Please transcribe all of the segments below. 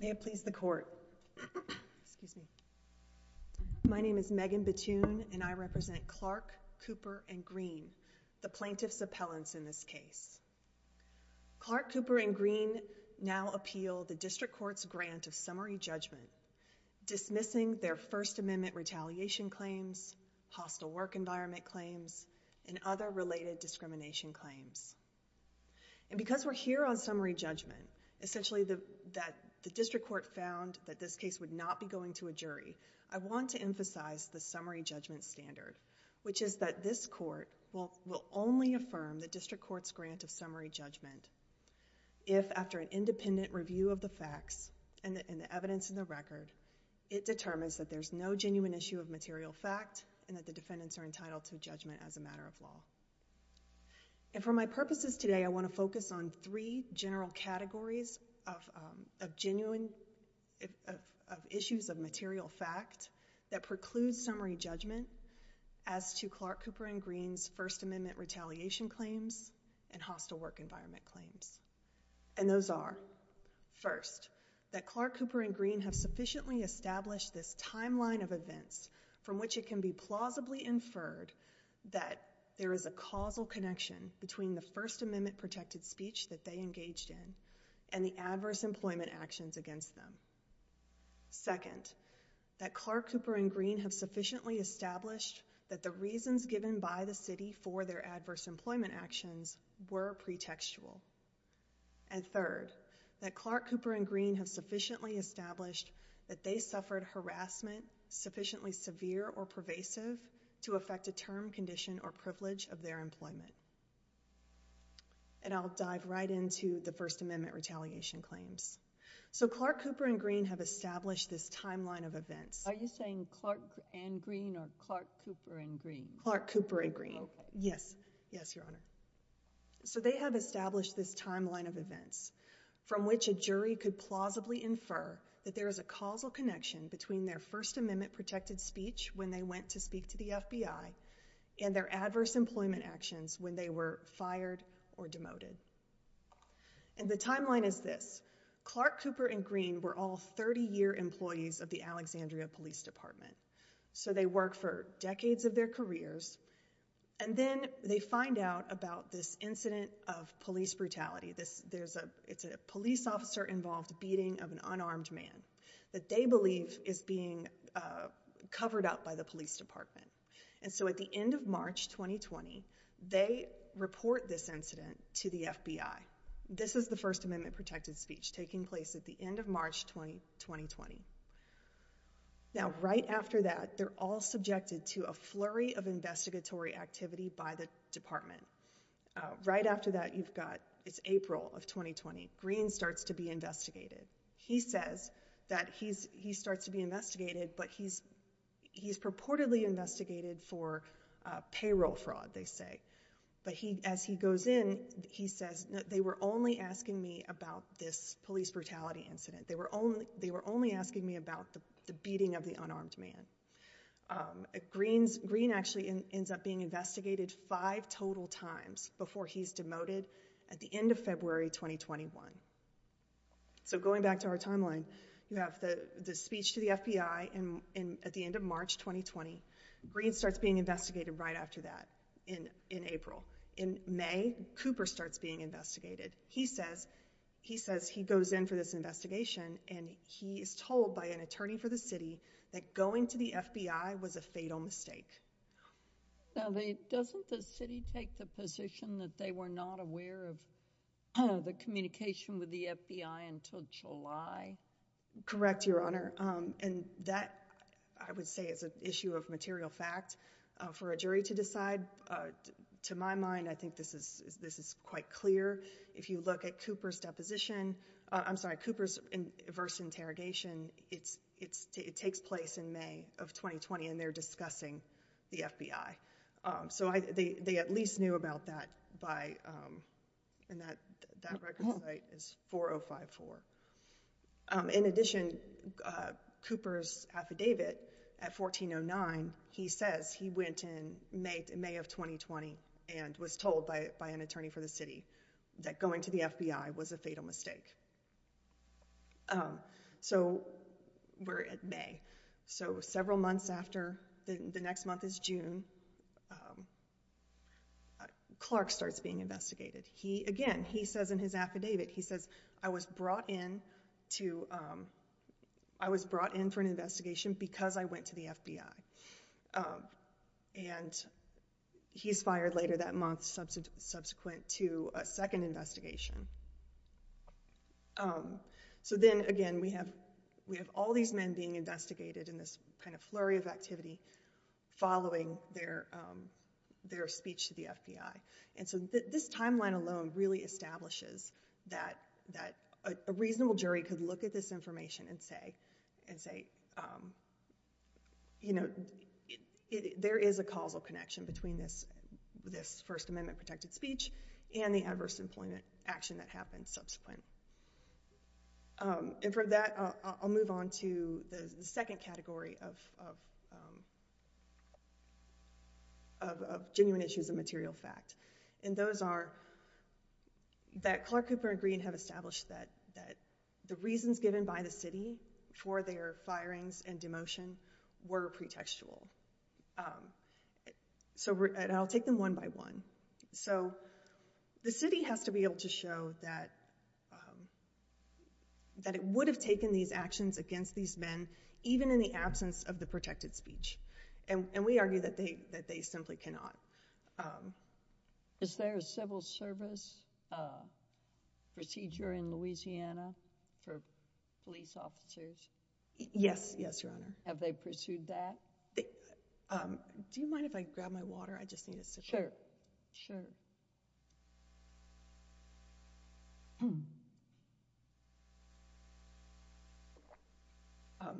May it please the court, excuse me. My name is Megan Batoon and I represent Clark, Cooper and Green, the plaintiff's appellants in this case. Clark, Cooper and Green now appeal the District Court's grant of summary judgment, dismissing their First Amendment retaliation claims, hostile work environment claims, and other related discrimination claims. And because we're here on summary judgment, essentially that the District Court found that this case would not be going to a jury, I want to emphasize the summary judgment standard, which is that this court will only affirm the District Court's grant of summary judgment if after an independent review of the facts and the evidence in the record, it determines that there's no genuine issue of material fact and that the defendants are entitled to judgment as a matter of law. And for my purposes today, I want to focus on three general categories of genuine issues of material fact that precludes summary judgment as to Clark, Cooper and Green's First Amendment retaliation claims and hostile work environment claims. And those are first, that Clark, Cooper and Green have sufficiently established this timeline of events from which it can be plausibly inferred that there is a causal connection between the First Amendment protected speech that they engaged in and the adverse employment actions against them. Second, that Clark, Cooper and Green have sufficiently established that the reasons given by the city for their adverse employment actions were pretextual. And third, that Clark, Cooper and Green have sufficiently established that they suffered harassment sufficiently severe or pervasive to affect a term, condition, or privilege of their employment. And I'll dive right into the First Amendment retaliation claims. So Clark, Cooper and Green have established this timeline of events. Are you saying Clark and Green or Clark, Cooper and Green? Clark, Cooper and Green. Yes. Yes, Your Honor. So they have established this timeline of events from which a jury could plausibly infer that there is a causal connection between their First Amendment protected speech when they went to speak to the FBI and their adverse employment actions when they were fired or demoted. And the timeline is this. Clark, Cooper and Green were all 30-year employees of the Alexandria Police Department. So they work for decades of their careers. And then they find out about this incident of police brutality. It's a police officer-involved beating of an unarmed man that they believe is being covered up by the police department. And so at the end of March 2020, they report this incident to the FBI. This is the First Amendment protected speech taking place at the end of March 2020. Now right after that, they're all subjected to a flurry of investigatory activity by the department. Right after that, you've got it's April of 2020, Green starts to be investigated. He says that he starts to be investigated, but he's purportedly investigated for payroll fraud, they say. But as he goes in, he says, they were only asking me about this police brutality incident. They were only asking me about the beating of the unarmed man. Green actually ends up being investigated five total times before he's demoted at the end of February 2021. So going back to our timeline, you have the speech to the FBI at the end of March 2020. Green starts being investigated right after that in April. In May, Cooper starts being investigated. He says he goes in for this investigation, and he is told by an attorney for the city that going to the FBI was a fatal mistake. Now, doesn't the city take the position that they were not aware of the communication with the FBI until July? Correct, Your Honor. And that, I would say, is an issue of material fact for a jury to decide. To my mind, I think this is quite clear. If you look at Cooper's deposition, I'm sorry, Cooper's first interrogation, it takes place in May of 2020, and they're discussing the FBI. So they at least knew about that by, and that record site is 4054. In addition, Cooper's affidavit at 1409, he says he went in May of 2020 and was told by an attorney for the city that going to the FBI was a fatal mistake. So we're at May. So several months after, the next month is June, Clark starts being investigated. He, again, he says in his affidavit, he says, I was brought in to, I was brought in for an investigation because I went to the FBI. And he's fired later that month subsequent to a second investigation. So then again, we have all these men being investigated in this kind of flurry of activity following their speech to the FBI. And so this timeline alone really establishes that a reasonable jury could look at this information and say, there is a causal connection between this First Amendment protected speech and the adverse employment action that happened subsequent. And from that, I'll move on to the second category of of genuine issues of material fact. And those are that Clark, Cooper, and Green have established that the reasons given by the city for their firings and demotion were pretextual. So I'll take them one by one. So the city has to be able to show that that it would have taken these actions against these men, even in the absence of the protected speech. And we argue that they that they simply cannot. Is there a civil service procedure in Louisiana for police officers? Yes, yes, Your Honor. Have they pursued that? Do you mind if I grab my water? I just need a second. Sure, sure. Hmm.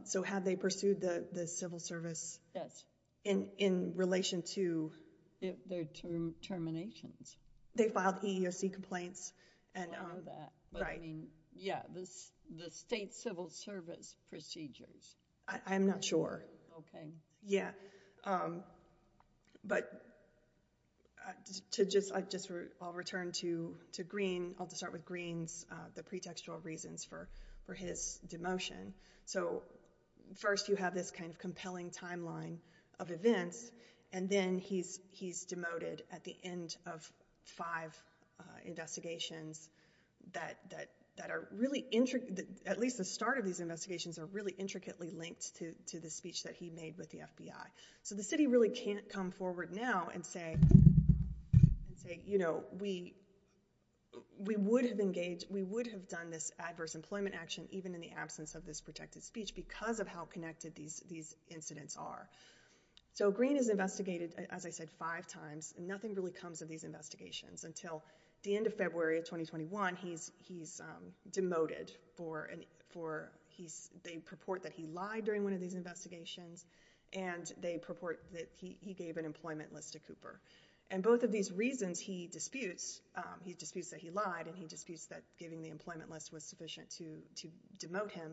So have they pursued the civil service? Yes. In relation to? Their terminations. They filed EEOC complaints. And I mean, yeah, this the state civil service procedures. I'm not sure. Okay. Yeah. But to just I just I'll return to to Green. I'll just start with Green's, the pretextual reasons for for his demotion. So first, you have this kind of compelling timeline of events. And then he's he's demoted at the end of five investigations that that that are really intricate that at least the start of these investigations are really intricately linked to the speech that he made with the FBI. So the city really can't come forward now and say, and say, you know, we, we would have engaged, we would have done this adverse employment action, even in the absence of this protected speech, because of how connected these these incidents are. So Green is investigated, as I said, five times, nothing really comes of these investigations until the end of February of 2021. He's he's demoted for for he's they purport that he lied during one of these investigations. And they purport that he gave an employment list to Cooper. And both of these reasons he disputes, he disputes that he lied, and he disputes that giving the employment list was sufficient to to demote him.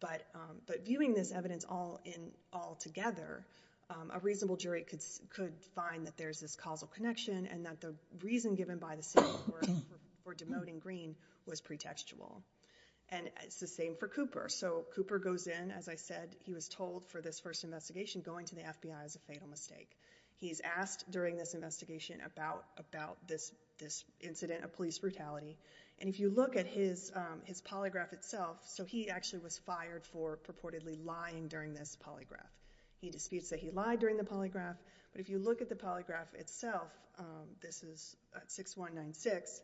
But but viewing this evidence all in all together, a reasonable jury could could find that there's this causal connection and that the reason given by the city for demoting Green was pretextual. And it's the same for Cooper. So Cooper goes in, as I said, he was told for this first investigation going to the FBI is a fatal mistake. He's asked during this investigation about about this, this incident of police brutality. And if you look at his, his polygraph itself, so he actually was fired for purportedly lying during this polygraph. He disputes that he lied during the polygraph. But if you look at the polygraph itself, this is 6196.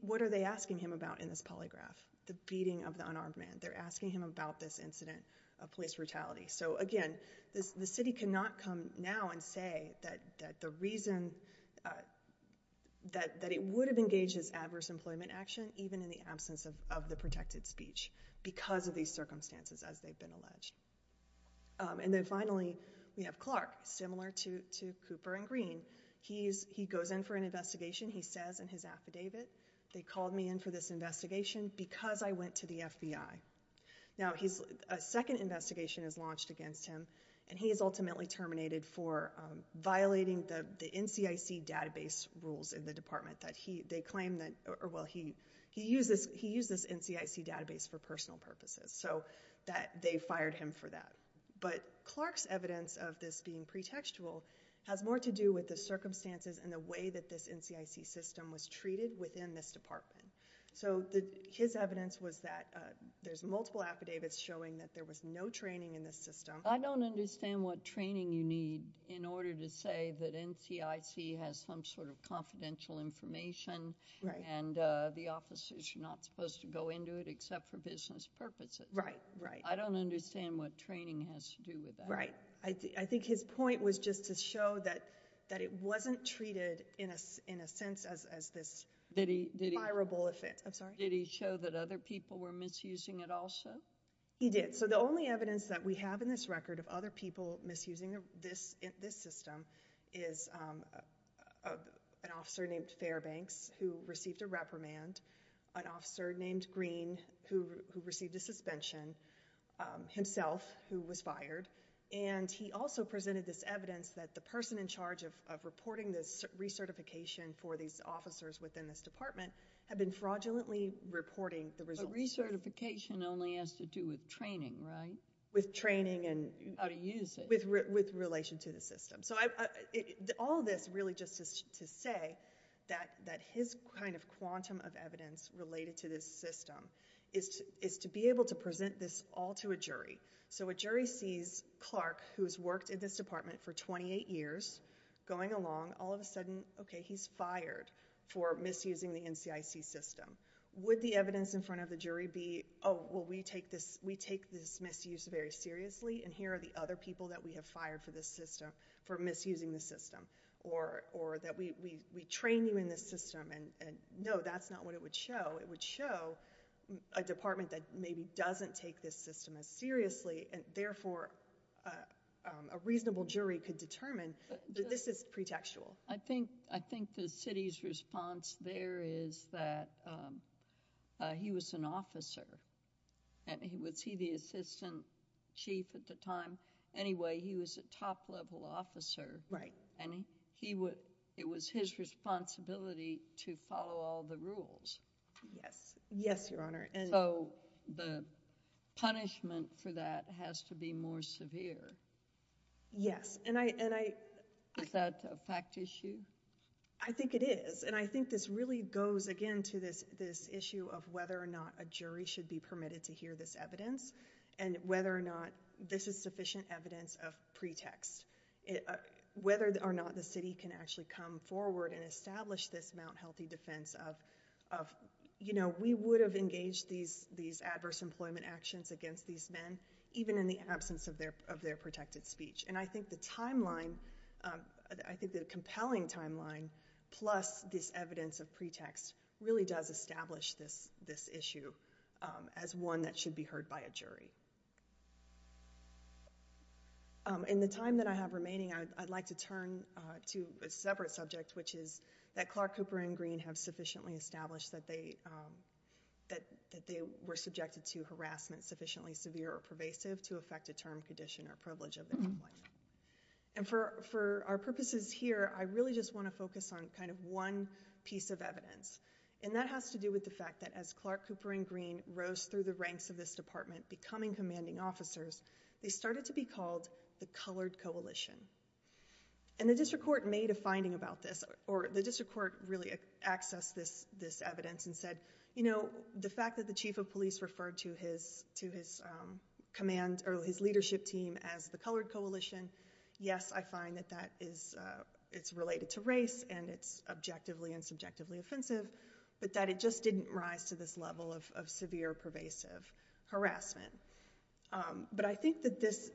What are they asking him about in this polygraph, the beating of the unarmed man, they're asking him about this incident of police brutality. So again, this the city cannot come now and say that that the reason that that it would have engaged as adverse employment action, even in the absence of the protected speech, because of these circumstances, as they've alleged. And then finally, we have Clark, similar to Cooper and Green, he's he goes in for an investigation, he says in his affidavit, they called me in for this investigation because I went to the FBI. Now he's a second investigation is launched against him. And he is ultimately terminated for violating the NCIC database rules in the department that he they claim that or he he uses he uses NCIC database for personal purposes, so that they fired him for that. But Clark's evidence of this being pretextual has more to do with the circumstances and the way that this NCIC system was treated within this department. So the his evidence was that there's multiple affidavits showing that there was no training in this system. I don't understand what training you need in order to say that NCIC has some sort of confidential information, right? And the officers are not supposed to go into it, except for business purposes. Right, right. I don't understand what training has to do with that. Right. I think his point was just to show that, that it wasn't treated in a in a sense as this very desirable offense. I'm sorry, did he show that other people were misusing it also? He did. So the only evidence that we have in this record of other people misusing this, this system is an officer named Fairbanks who received a reprimand, an officer named Green who received a suspension, himself who was fired, and he also presented this evidence that the person in charge of reporting this recertification for these officers within this department had been fraudulently reporting the results. But recertification only has to do with training, right? With training and... How to use it. With relation to the system. So all of this really just is to say that his kind of quantum of evidence related to this system is to be able to present this all to a jury. So a jury sees Clark, who's worked in this department for 28 years, going along, all of a sudden, okay, he's fired for misusing the NCIC system. Would the evidence in front of the jury be, oh, well, we take this misuse very seriously, and here are the other people that we have fired for this system, for misusing the system? Or that we train you in this system, and no, that's not what it would show. It would show a department that maybe doesn't take this system as seriously, and therefore, a reasonable jury could determine that this is pretextual. I think the city's response there is that he was an officer, and was he the assistant chief at the time? Anyway, he was a top-level officer. Right. And it was his responsibility to follow all the rules. Yes. Yes, Your Honor. So the punishment for that has to be more severe. Yes, and I... Is that a fact issue? I think it is, and I think this really goes, again, to this issue of whether or not a jury should be permitted to hear this evidence, and whether or not this is sufficient evidence of pretext. Whether or not the city can actually come forward and establish this Mount Healthy defense of, you know, we would have engaged these adverse employment actions against these men, even in the absence of their protected speech. And I think the timeline, I think the compelling timeline, plus this evidence of pretext, really does establish this issue as one that should be heard by a jury. In the time that I have remaining, I'd like to turn to a separate subject, which is that Clark, Cooper, and Green have sufficiently established that they were subjected to harassment sufficiently severe or pervasive to affect a term, condition, or privilege of employment. And for our purposes here, I really just want to focus on kind of one piece of evidence, and that has to do with the fact that as Clark, Cooper, and Green rose through the ranks of this department, becoming commanding officers, they started to be called the Colored Coalition. And the district court made a finding about this, or the district court really accessed this evidence and said, you know, the fact that the chief of police referred to his command, or his leadership team as the Colored Coalition, yes, I find that that is, it's related to race, and it's objectively and subjectively offensive, but that it just didn't rise to this level of severe pervasive harassment. But I think that this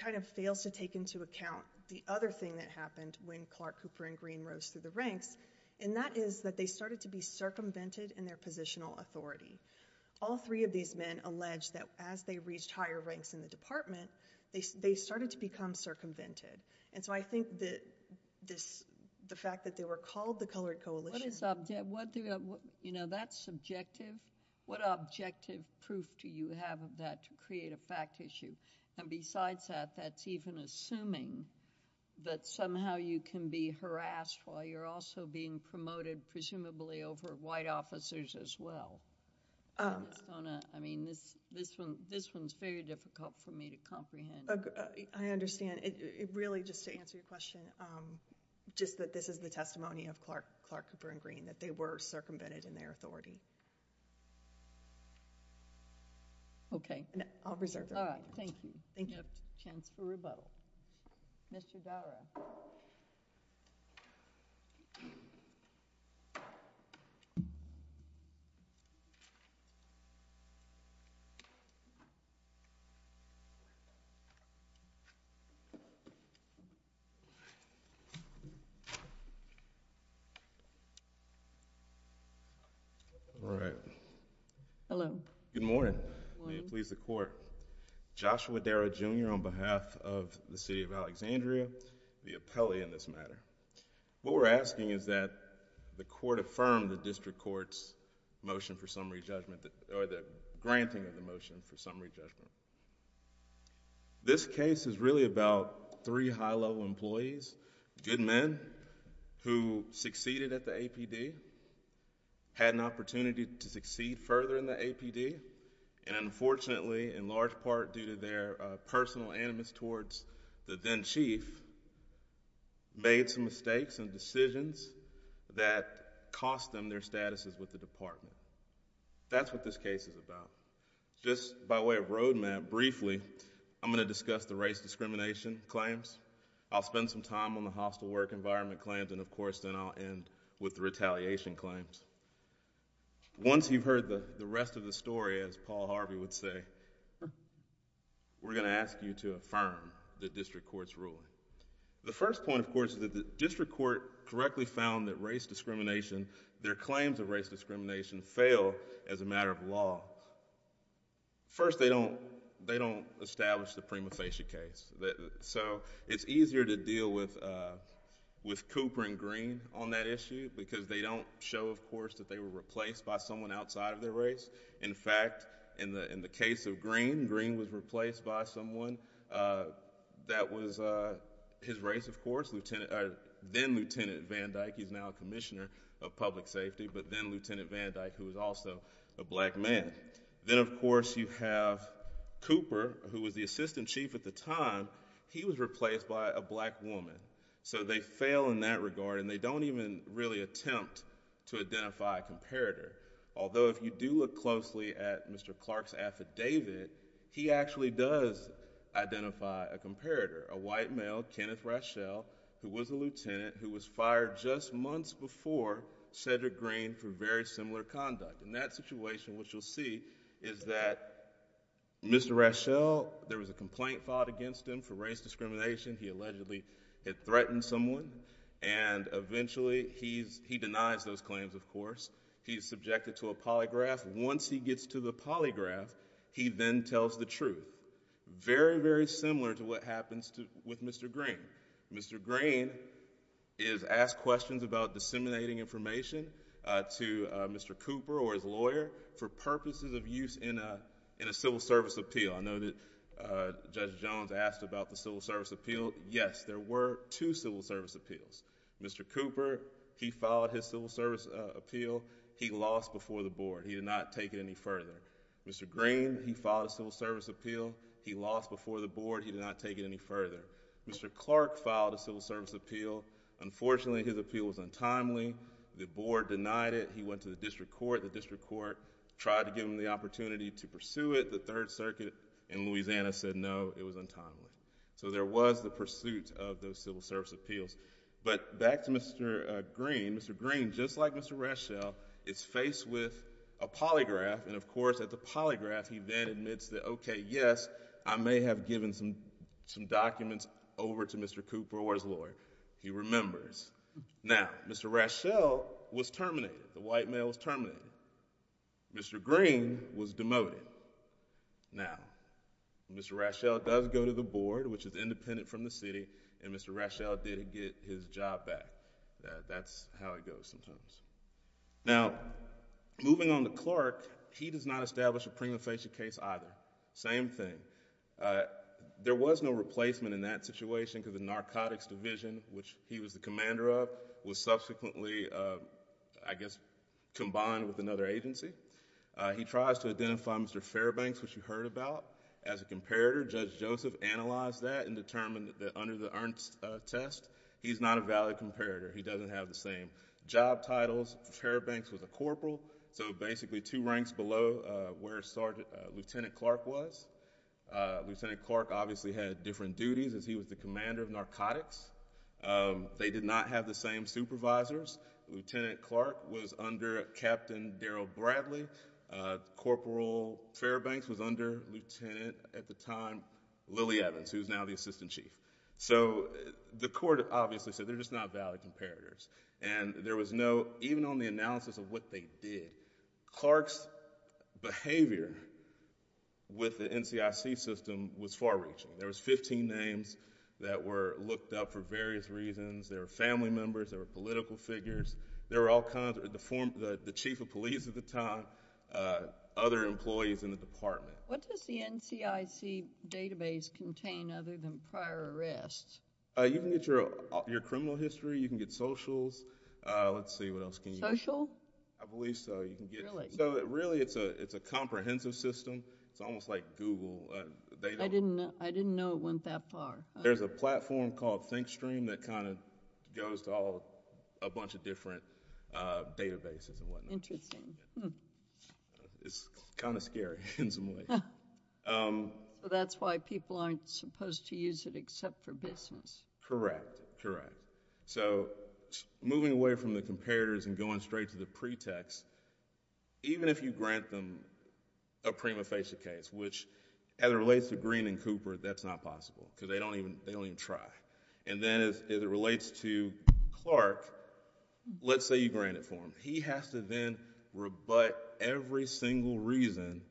kind of fails to take into account the other thing that happened when Clark, Cooper, and Green rose through the ranks, and that is that they started to be circumvented in their positional authority. All three of these men allege that as they reached higher ranks in the department, they started to become circumvented. And so I think that this, the fact that they were called the Colored Coalition— What is, what do you know, that's subjective. What objective proof do you have of that to create a fact issue? And besides that, that's even assuming that somehow you can be harassed while you're also being promoted, presumably, over white officers as well. I mean, this one's very difficult for me to comprehend. I understand. It really, just to answer your question, just that this is the testimony of Clark, Cooper, and Green, that they were circumvented in their authority. Okay. And I'll reserve that. All right. Thank you. Thank you. No chance for rebuttal. Mr. Gowra. All right. Hello. Good morning. May it please the Court. Joshua Darrow, Jr. on behalf of the City of Alexandria, the appellee in this matter. What we're asking is that the Court affirm the District Court's motion for summary judgment, or the granting of the motion for summary judgment. This case is really about three high-level employees, good men, who succeeded at the APD, had an opportunity to succeed further in the APD, and unfortunately, in large part due to their personal animus towards the then chief, made some mistakes and decisions that cost them their statuses with the department. That's what this case is about. Just by way of roadmap, briefly, I'm going to discuss the race discrimination claims. I'll spend some time on the hostile work environment claims, and of course, then I'll end with the retaliation claims. Once you've heard the rest of the story, as Paul Harvey would say, we're going to ask you to affirm the District Court's ruling. The first point, of course, is that the District Court correctly found that race discrimination, their claims of race discrimination, fail as a matter of law. First, they don't establish the prima facie case. It's easier to deal with Cooper and Green on that issue because they don't show, of course, that they were replaced by someone outside of their race. In fact, in the case of Green, Green was replaced by someone that was his race, of course, then Lieutenant Van Dyke. He's now a commissioner of public safety, but then Lieutenant Van Dyke, who was also a black man. Then, of course, you have Cooper, who was the assistant chief at the time. He was replaced by a black woman. So they fail in that regard, and they don't even really attempt to identify a comparator. Although, if you do look closely at Mr. Clark's affidavit, he actually does identify a comparator, a white male, Kenneth Raschel, who was a lieutenant who was fired just months before Cedric Green for very similar conduct. In that situation, what you'll see is that Mr. Raschel, there was a complaint filed against him for race discrimination. He allegedly had threatened someone, and eventually he denies those claims, of course. He's subjected to a polygraph. Once he gets to the polygraph, he then tells the truth. Very, very similar to what happens with Mr. Green. Mr. Green is asked questions about disseminating information to Mr. Cooper or his lawyer for purposes of use in a civil service appeal. I know that Judge Jones asked about the civil service appeal. Yes, there were two civil service appeals. Mr. Cooper, he filed his civil service appeal. He lost before the board. He did not take it any further. Mr. Green, he filed a civil service appeal. He lost before the board. He did not take it any further. Mr. Clark filed a civil service appeal. Unfortunately, his appeal was untimely. The board denied it. He went to the district court. The district court tried to give him the opportunity to pursue it. The Third Circuit in Louisiana said, no, it was untimely. So, there was the pursuit of those civil service appeals. But back to Mr. Green. Mr. Green, just like Mr. Rashelle, is faced with a polygraph. And of course, at the polygraph, he then admits that, okay, yes, I may have given some documents over to Mr. Cooper or his lawyer. He remembers. Now, Mr. Rashelle was terminated. The white male was terminated. Mr. Green was demoted. Now, Mr. Rashelle does go to the board, which is independent from the city. And Mr. Rashelle did get his job back. That's how it goes sometimes. Now, moving on to Clark, he does not establish a prima facie case either. Same thing. There was no replacement in that situation because the narcotics division, which he was the commander of, was subsequently, I guess, combined with another agency. He tries to identify Mr. Fairbanks, which you heard about. As a comparator, Judge Joseph analyzed that and determined that under the Ernst test, he's not a valid comparator. He doesn't have the same job titles. Fairbanks was a corporal, so basically two ranks below where Lieutenant Clark was. Lieutenant Clark obviously had different duties as he was the commander of narcotics. They did not have the same supervisors. Lieutenant Clark was under Captain Daryl Bradley. Corporal Fairbanks was under Lieutenant, at the time, Lily Evans, who's now the assistant chief. So the court obviously said they're just not valid comparators. And there was no, even on the analysis of what they did, Clark's behavior with the NCIC system was far reaching. There was 15 names that were looked up for various reasons. There were family members. There were political figures. There were all kinds, the chief of police at the time, other employees in the department. What does the NCIC database contain other than prior arrests? You can get your criminal history. You can get socials. Let's see, what else can you get? Social? I believe so. Really, it's a comprehensive system. It's almost like Google. I didn't know it went that far. There's a platform called Thinkstream that kind of goes to all, a bunch of different databases and whatnot. It's kind of scary in some ways. So that's why people aren't supposed to use it except for business. Correct, correct. So moving away from the comparators and going straight to the pretext, even if you grant them a prima facie case, which as it relates to Greene and Cooper, that's not possible because they don't even try. Then as it relates to Clark, let's say you grant it for him. He has to then rebut every single reason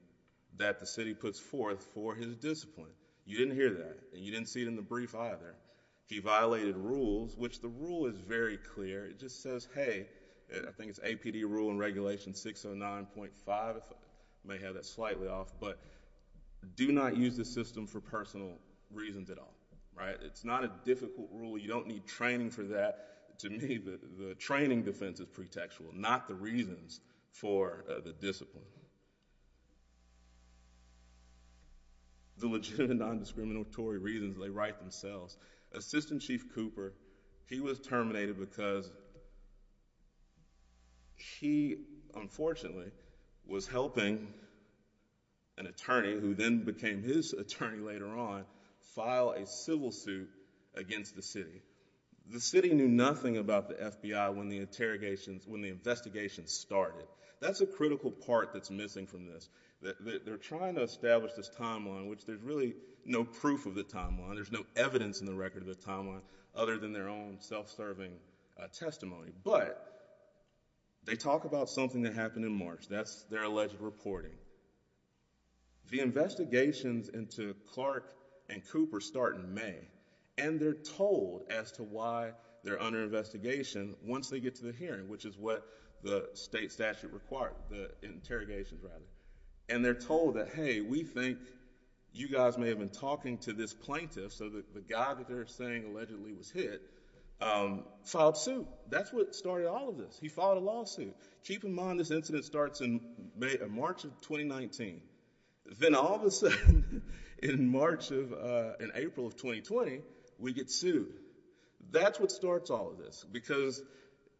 that the city puts forth for his discipline. You didn't hear that. You didn't see it in the brief either. He violated rules, which the rule is very clear. It just says, hey, I think it's APD rule in regulation 609.5, if I may have that slightly off, but do not use the system for personal reasons at all, right? It's not a difficult rule. You don't need training for that. To me, the training defense is pretextual, not the reasons for the discipline. The legitimate non-discriminatory reasons, they write themselves. Assistant Chief Cooper, he was terminated because he, unfortunately, was helping an attorney, who then became his attorney later on, file a civil suit against the city. The city knew nothing about the FBI when the investigations started. That's a critical part that's missing from this. They're trying to establish this timeline, which there's really no proof of the timeline. There's no evidence in the record of the timeline other than their own self-serving testimony, but they talk about something that happened in March. That's their alleged reporting. The investigations into Clark and Cooper start in May, and they're told as to why they're under investigation once they get to the hearing, which is what the state statute required, the interrogations, rather. They're told that, hey, we think you guys may have been talking to this plaintiff, so that the guy that they're saying allegedly was hit filed suit. That's what started all of this. He filed a lawsuit. Keep in mind, this incident starts in March of 2019. Then all of a sudden, in April of 2020, we get sued. That's what starts all of this, because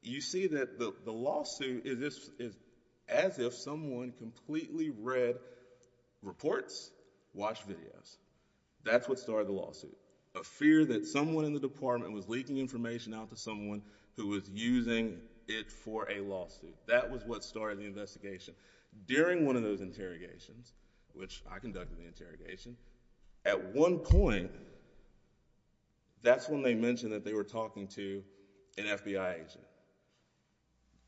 you see that the lawsuit is as if someone completely read reports, watched videos. That's what started the lawsuit, a fear that someone in the department was leaking information out to someone who was using it for a lawsuit. That was what started the investigation. During one of those interrogations, which I conducted the interrogation, at one point, that's when they mentioned that they were talking to an FBI agent.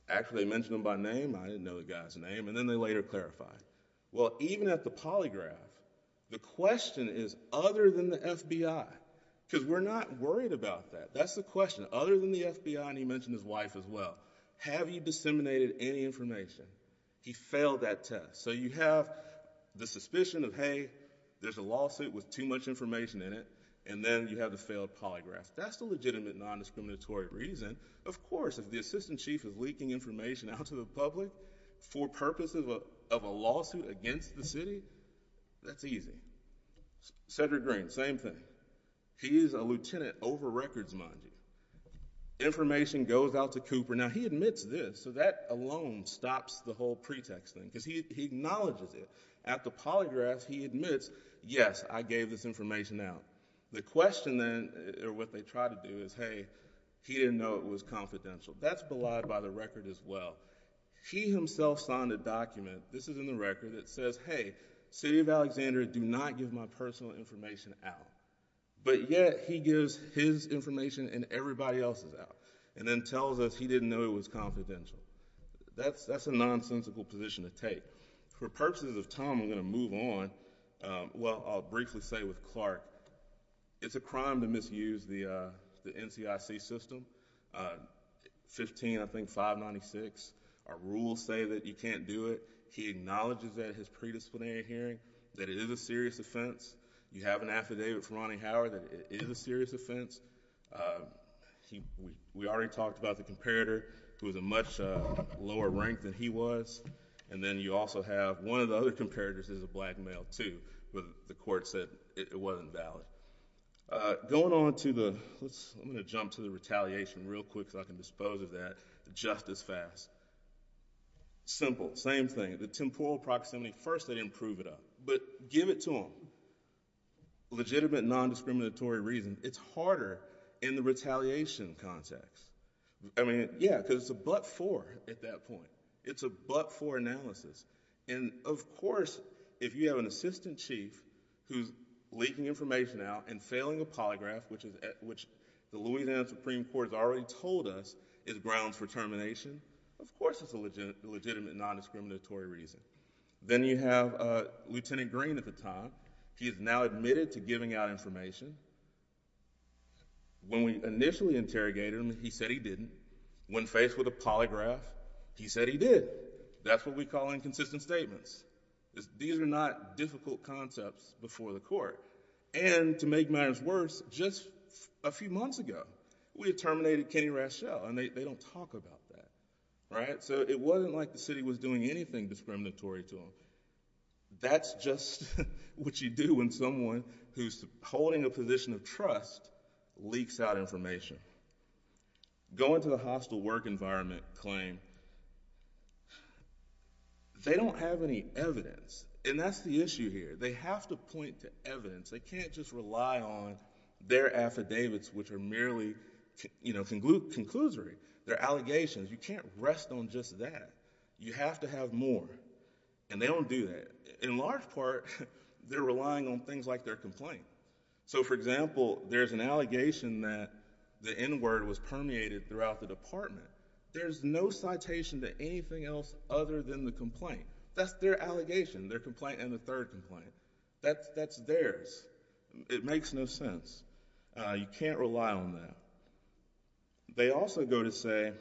Actually, they mentioned him by name. I didn't know the guy's name, and then they later clarified. Even at the polygraph, the question is other than the FBI, because we're not worried about that. That's the question. Other than the FBI, and he mentioned his wife as well, have you disseminated any information? He failed that test. You have the suspicion of, hey, there's a lawsuit with too much information in it, and then you have the failed polygraph. That's the legitimate non-discriminatory reason. Of course, if the assistant chief is leaking information out to the public for purposes of a lawsuit against the city, that's easy. Cedric Green, same thing. He is a lieutenant over records, mind you. Information goes out to Cooper. Now, he admits this, so that alone stops the whole pretext thing, because he acknowledges it. At the polygraph, he admits, yes, I gave this information out. The question, then, or what they try to do is, hey, he didn't know it was confidential. That's belied by the record as well. He himself signed a document. This is in the record. It says, hey, city of Alexandria, do not give my personal information out. But yet, he gives his information and everybody else's out, and then tells us he didn't know it was confidential. That's a nonsensical position to take. For purposes of time, I'm going to move on. Well, I'll briefly say with Clark, it's a crime to misuse the NCIC system, 15, I think, 596. Our rules say that you can't do it. He acknowledges that at his predisciplinary hearing, that it is a serious offense. You have an affidavit from Ronnie Howard that it is a serious offense. We already talked about the comparator, who is a much lower rank than he was. And then you also have one of the other comparators is a black male, too. But the court said it wasn't valid. Going on to the, I'm going to jump to the retaliation real quick so I can dispose of that just as fast. Simple, same thing. The temporal proximity, first, they didn't prove it up. But give it to them. Legitimate, nondiscriminatory reason, it's harder in the retaliation context. I mean, yeah, because it's a but-for at that point. It's a but-for analysis. And, of course, if you have an assistant chief who's leaking information out and failing a polygraph, which the Louisiana Supreme Court has already told us is grounds for termination, of course it's a legitimate, nondiscriminatory reason. Then you have Lieutenant Green at the time. He has now admitted to giving out information. When we initially interrogated him, he said he didn't. When faced with a polygraph, he said he did. That's what we call inconsistent statements. These are not difficult concepts before the court. And to make matters worse, just a few months ago, we had terminated Kenny Rashelle, and they don't talk about that. So it wasn't like the city was doing anything discriminatory to him. That's just what you do when someone who's holding a position of trust leaks out information. Going to the hostile work environment claim, they don't have any evidence. And that's the issue here. They have to point to evidence. They can't just rely on their affidavits, which are merely, you know, conclusory. They're allegations. You can't rest on just that. You have to have more. And they don't do that. In large part, they're relying on things like their complaint. So, for example, there's an allegation that the N-word was permeated throughout the department. There's no citation to anything else other than the complaint. That's their allegation, their complaint and the third complaint. That's theirs. It makes no sense. You can't rely on that. They also go to say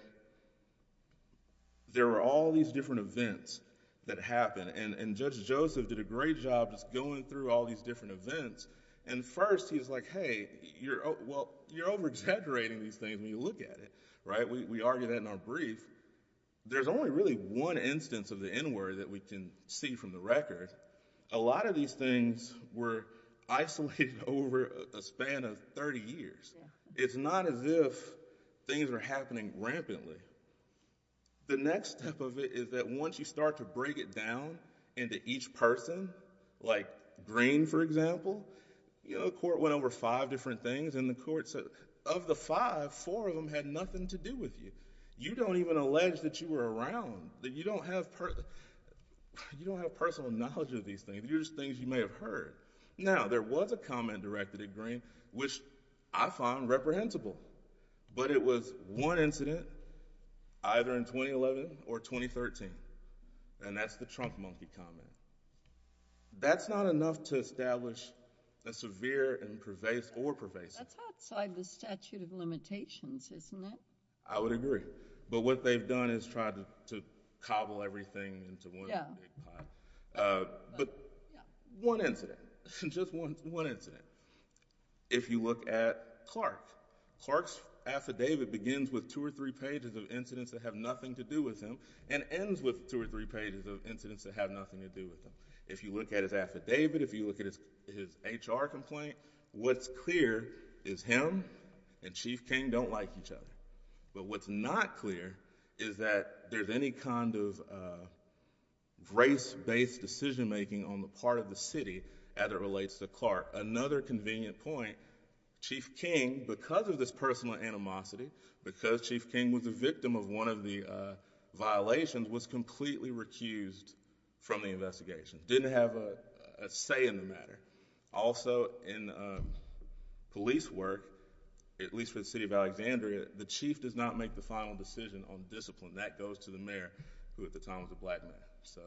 there were all these different events that happened. And Judge Joseph did a great job just going through all these different events. And first, he's like, hey, you're over-exaggerating these things when you look at it. We argue that in our brief. There's only really one instance of the N-word that we can see from the record. A lot of these things were isolated over a span of 30 years. It's not as if things are happening rampantly. The next step of it is that once you start to break it down into each person, like Green, for example, you know, the court went over five different things and the court said, of the five, four of them had nothing to do with you. You don't even allege that you were around, that you don't have personal knowledge of these things. These are just things you may have heard. Now, there was a comment directed at Green, which I find reprehensible. But it was one incident, either in 2011 or 2013. And that's the Trump monkey comment. That's not enough to establish a severe and pervasive or pervasive. That's outside the statute of limitations, isn't it? I would agree. But what they've done is tried to cobble everything into one big pot. But one incident, just one incident. If you look at Clark, Clark's affidavit begins with two or three pages of incidents that have nothing to do with him and ends with two or three pages of incidents that have nothing to do with him. If you look at his affidavit, if you look at his HR complaint, what's clear is him and Chief King don't like each other. But what's not clear is that there's any kind of race-based decision making on the part of the city as it relates to Clark. Another convenient point, Chief King, because of this personal animosity, because Chief King was a victim of one of the violations, was completely recused from the investigation. Didn't have a say in the matter. Also, in police work, at least for the city of Alexandria, the chief does not make the final decision on discipline. That goes to the mayor, who at the time was a black man. So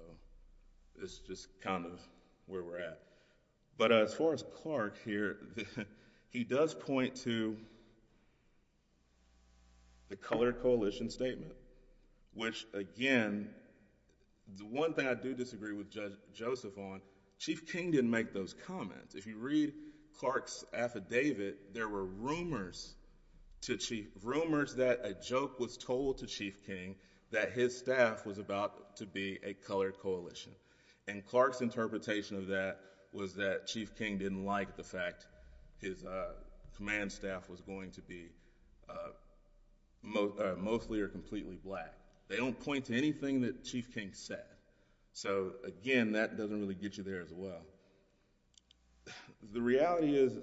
it's just kind of where we're at. But as far as Clark here, he does point to the colored coalition statement, which again, the one thing I do disagree with Judge Joseph on, Chief King didn't make those comments. If you read Clark's affidavit, there were rumors to Chief, rumors that a joke was told to Chief King that his staff was about to be a colored coalition. And Clark's interpretation of that was that Chief King didn't like the fact his command staff was going to be mostly or completely black. They don't point to anything that Chief King said. So again, that doesn't really get you there as well. The reality is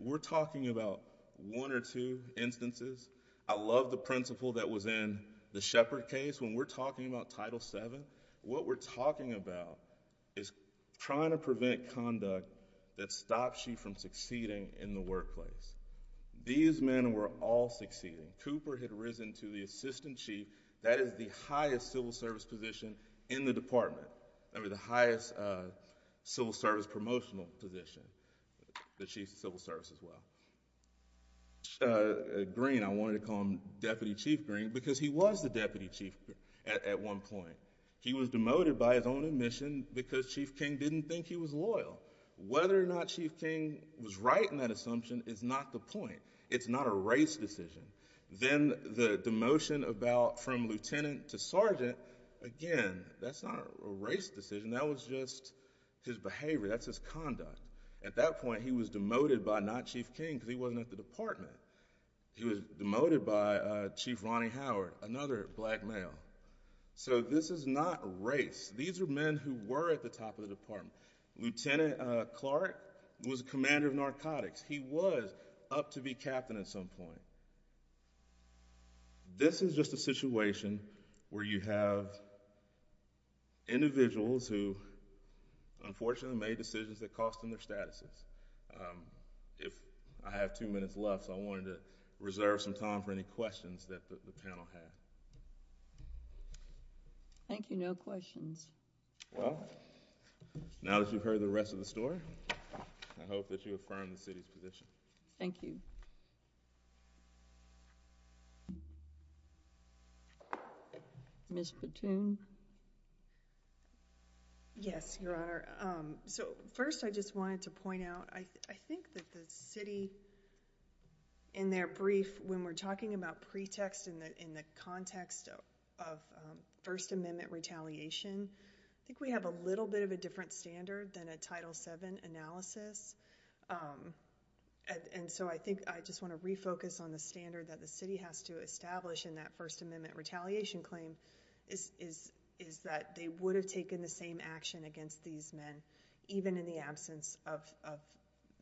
we're talking about one or two instances. I love the principle that was in the Shepard case when we're talking about Title VII. What we're talking about is trying to prevent conduct that stops you from succeeding in the workplace. These men were all succeeding. Cooper had risen to the assistant chief. That is the highest civil service position in the department, the highest civil service promotional position, the chief of civil service as well. Green, I wanted to call him Deputy Chief Green because he was the deputy chief at one point. He was demoted by his own admission because Chief King didn't think he was loyal. Whether or not Chief King was right in that assumption is not the point. It's not a race decision. Then the demotion about from lieutenant to sergeant, again, that's not a race decision. That was just his behavior. That's his conduct. At that point, he was demoted by not Chief King because he wasn't at the department. He was demoted by Chief Ronnie Howard, another black male. This is not a race. These are men who were at the top of the department. Lieutenant Clark was commander of narcotics. He was up to be captain at some point. This is just a situation where you have individuals who unfortunately made decisions that cost them their statuses. If I have two minutes left, so I wanted to reserve some time for any questions that the panel had. Thank you. No questions. Well, now that you've heard the rest of the story, I hope that you affirm the city's position. Thank you. Ms. Platoon? Yes, Your Honor. First, I just wanted to point out, I think that the city, in their brief, when we're looking at the context of First Amendment retaliation, I think we have a little bit of a different standard than a Title VII analysis. I think I just want to refocus on the standard that the city has to establish in that First Amendment retaliation claim is that they would have taken the same action against these men, even in the absence of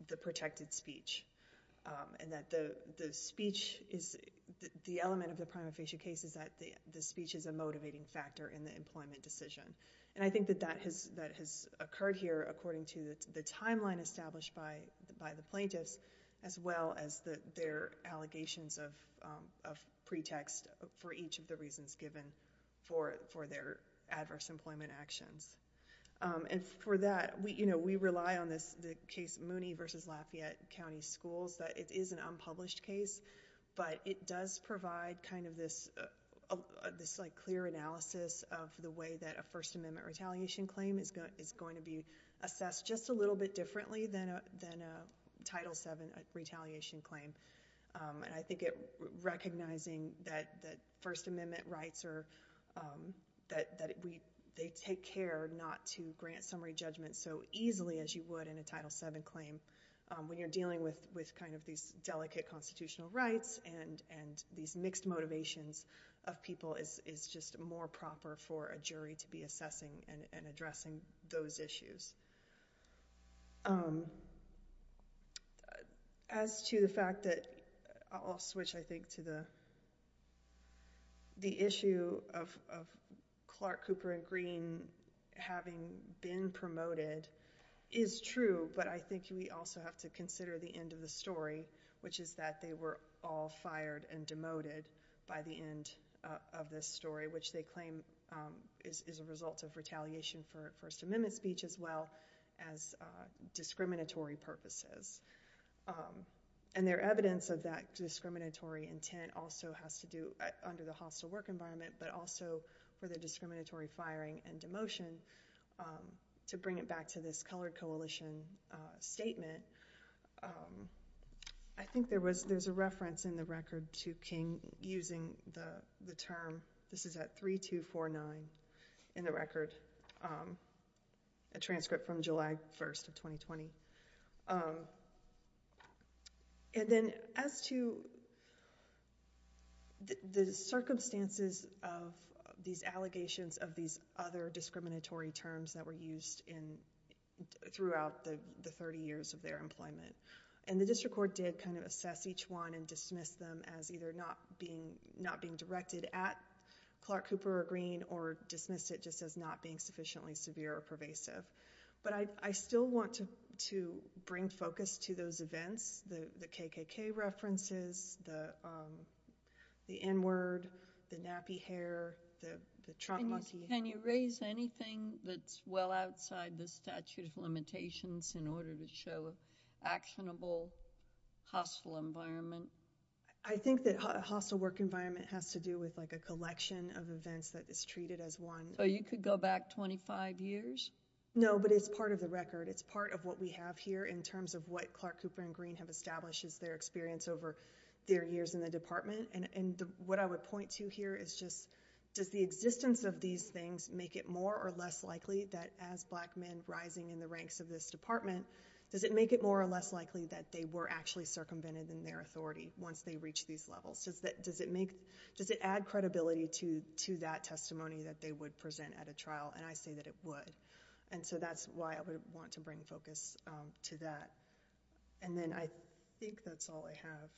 the protected speech. And that the speech is, the element of the prima facie case is that the speech is a motivating factor in the employment decision. And I think that that has occurred here according to the timeline established by the plaintiffs, as well as their allegations of pretext for each of the reasons given for their adverse employment actions. And for that, we rely on the case Mooney v. Lafayette County Schools, that it is an unpublished case, but it does provide kind of this clear analysis of the way that a First Amendment retaliation claim is going to be assessed just a little bit differently than a Title VII retaliation claim. And I think recognizing that First Amendment rights are, that they take care not to grant summary judgment so easily as you would in a Title VII claim when you're dealing with kind of these delicate constitutional rights and these mixed motivations of people is just more proper for a jury to be assessing and addressing those issues. As to the fact that, I'll switch I think to the issue of Clark, Cooper, and Green having been promoted is true, but I think we also have to consider the end of the story, which is that they were all fired and demoted by the end of this story, which they claim is a result of retaliation for First Amendment speech as well as discriminatory purposes. And their evidence of that discriminatory intent also has to do under the hostile work environment, but also for their discriminatory firing and demotion. To bring it back to this colored coalition statement, I think there was, there's a reference in the record to King using the term, this is at 3249 in the record, a transcript from July 1st of 2020. And then as to the circumstances of these allegations of these other discriminatory terms that were used throughout the 30 years of their employment, and the district court did kind of assess each one and dismiss them as either not being directed at Clark, Cooper, or Green, or dismiss it just as not being sufficiently severe or pervasive. But I still want to bring focus to those events, the KKK references, the N-word, the nappy hair, the trunk monkey. Can you raise anything that's well outside the statute of limitations in order to show actionable hostile environment? I think that hostile work environment has to do with like a collection of events that is treated as one. So you could go back 25 years? No, but it's part of the record. It's part of what we have here in terms of what Clark, Cooper, and Green have established as their experience over their years in the department. And what I would point to here is just, does the existence of these things make it more or less likely that as black men rising in the ranks of this department, does it make it more or less likely that they were actually circumvented in their authority once they reach these levels? Does it add credibility to that testimony that they would present at a trial? And I say that it would. And so that's why I would want to bring focus to that. And then I think that's all I have.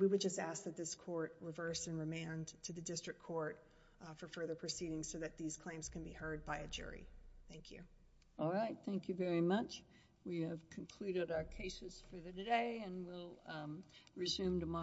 We would just ask that this court reverse and remand to the district court for further proceedings so that these claims can be heard by a jury. Thank you. All right. Thank you very much. We have concluded our cases for today and we'll resume tomorrow.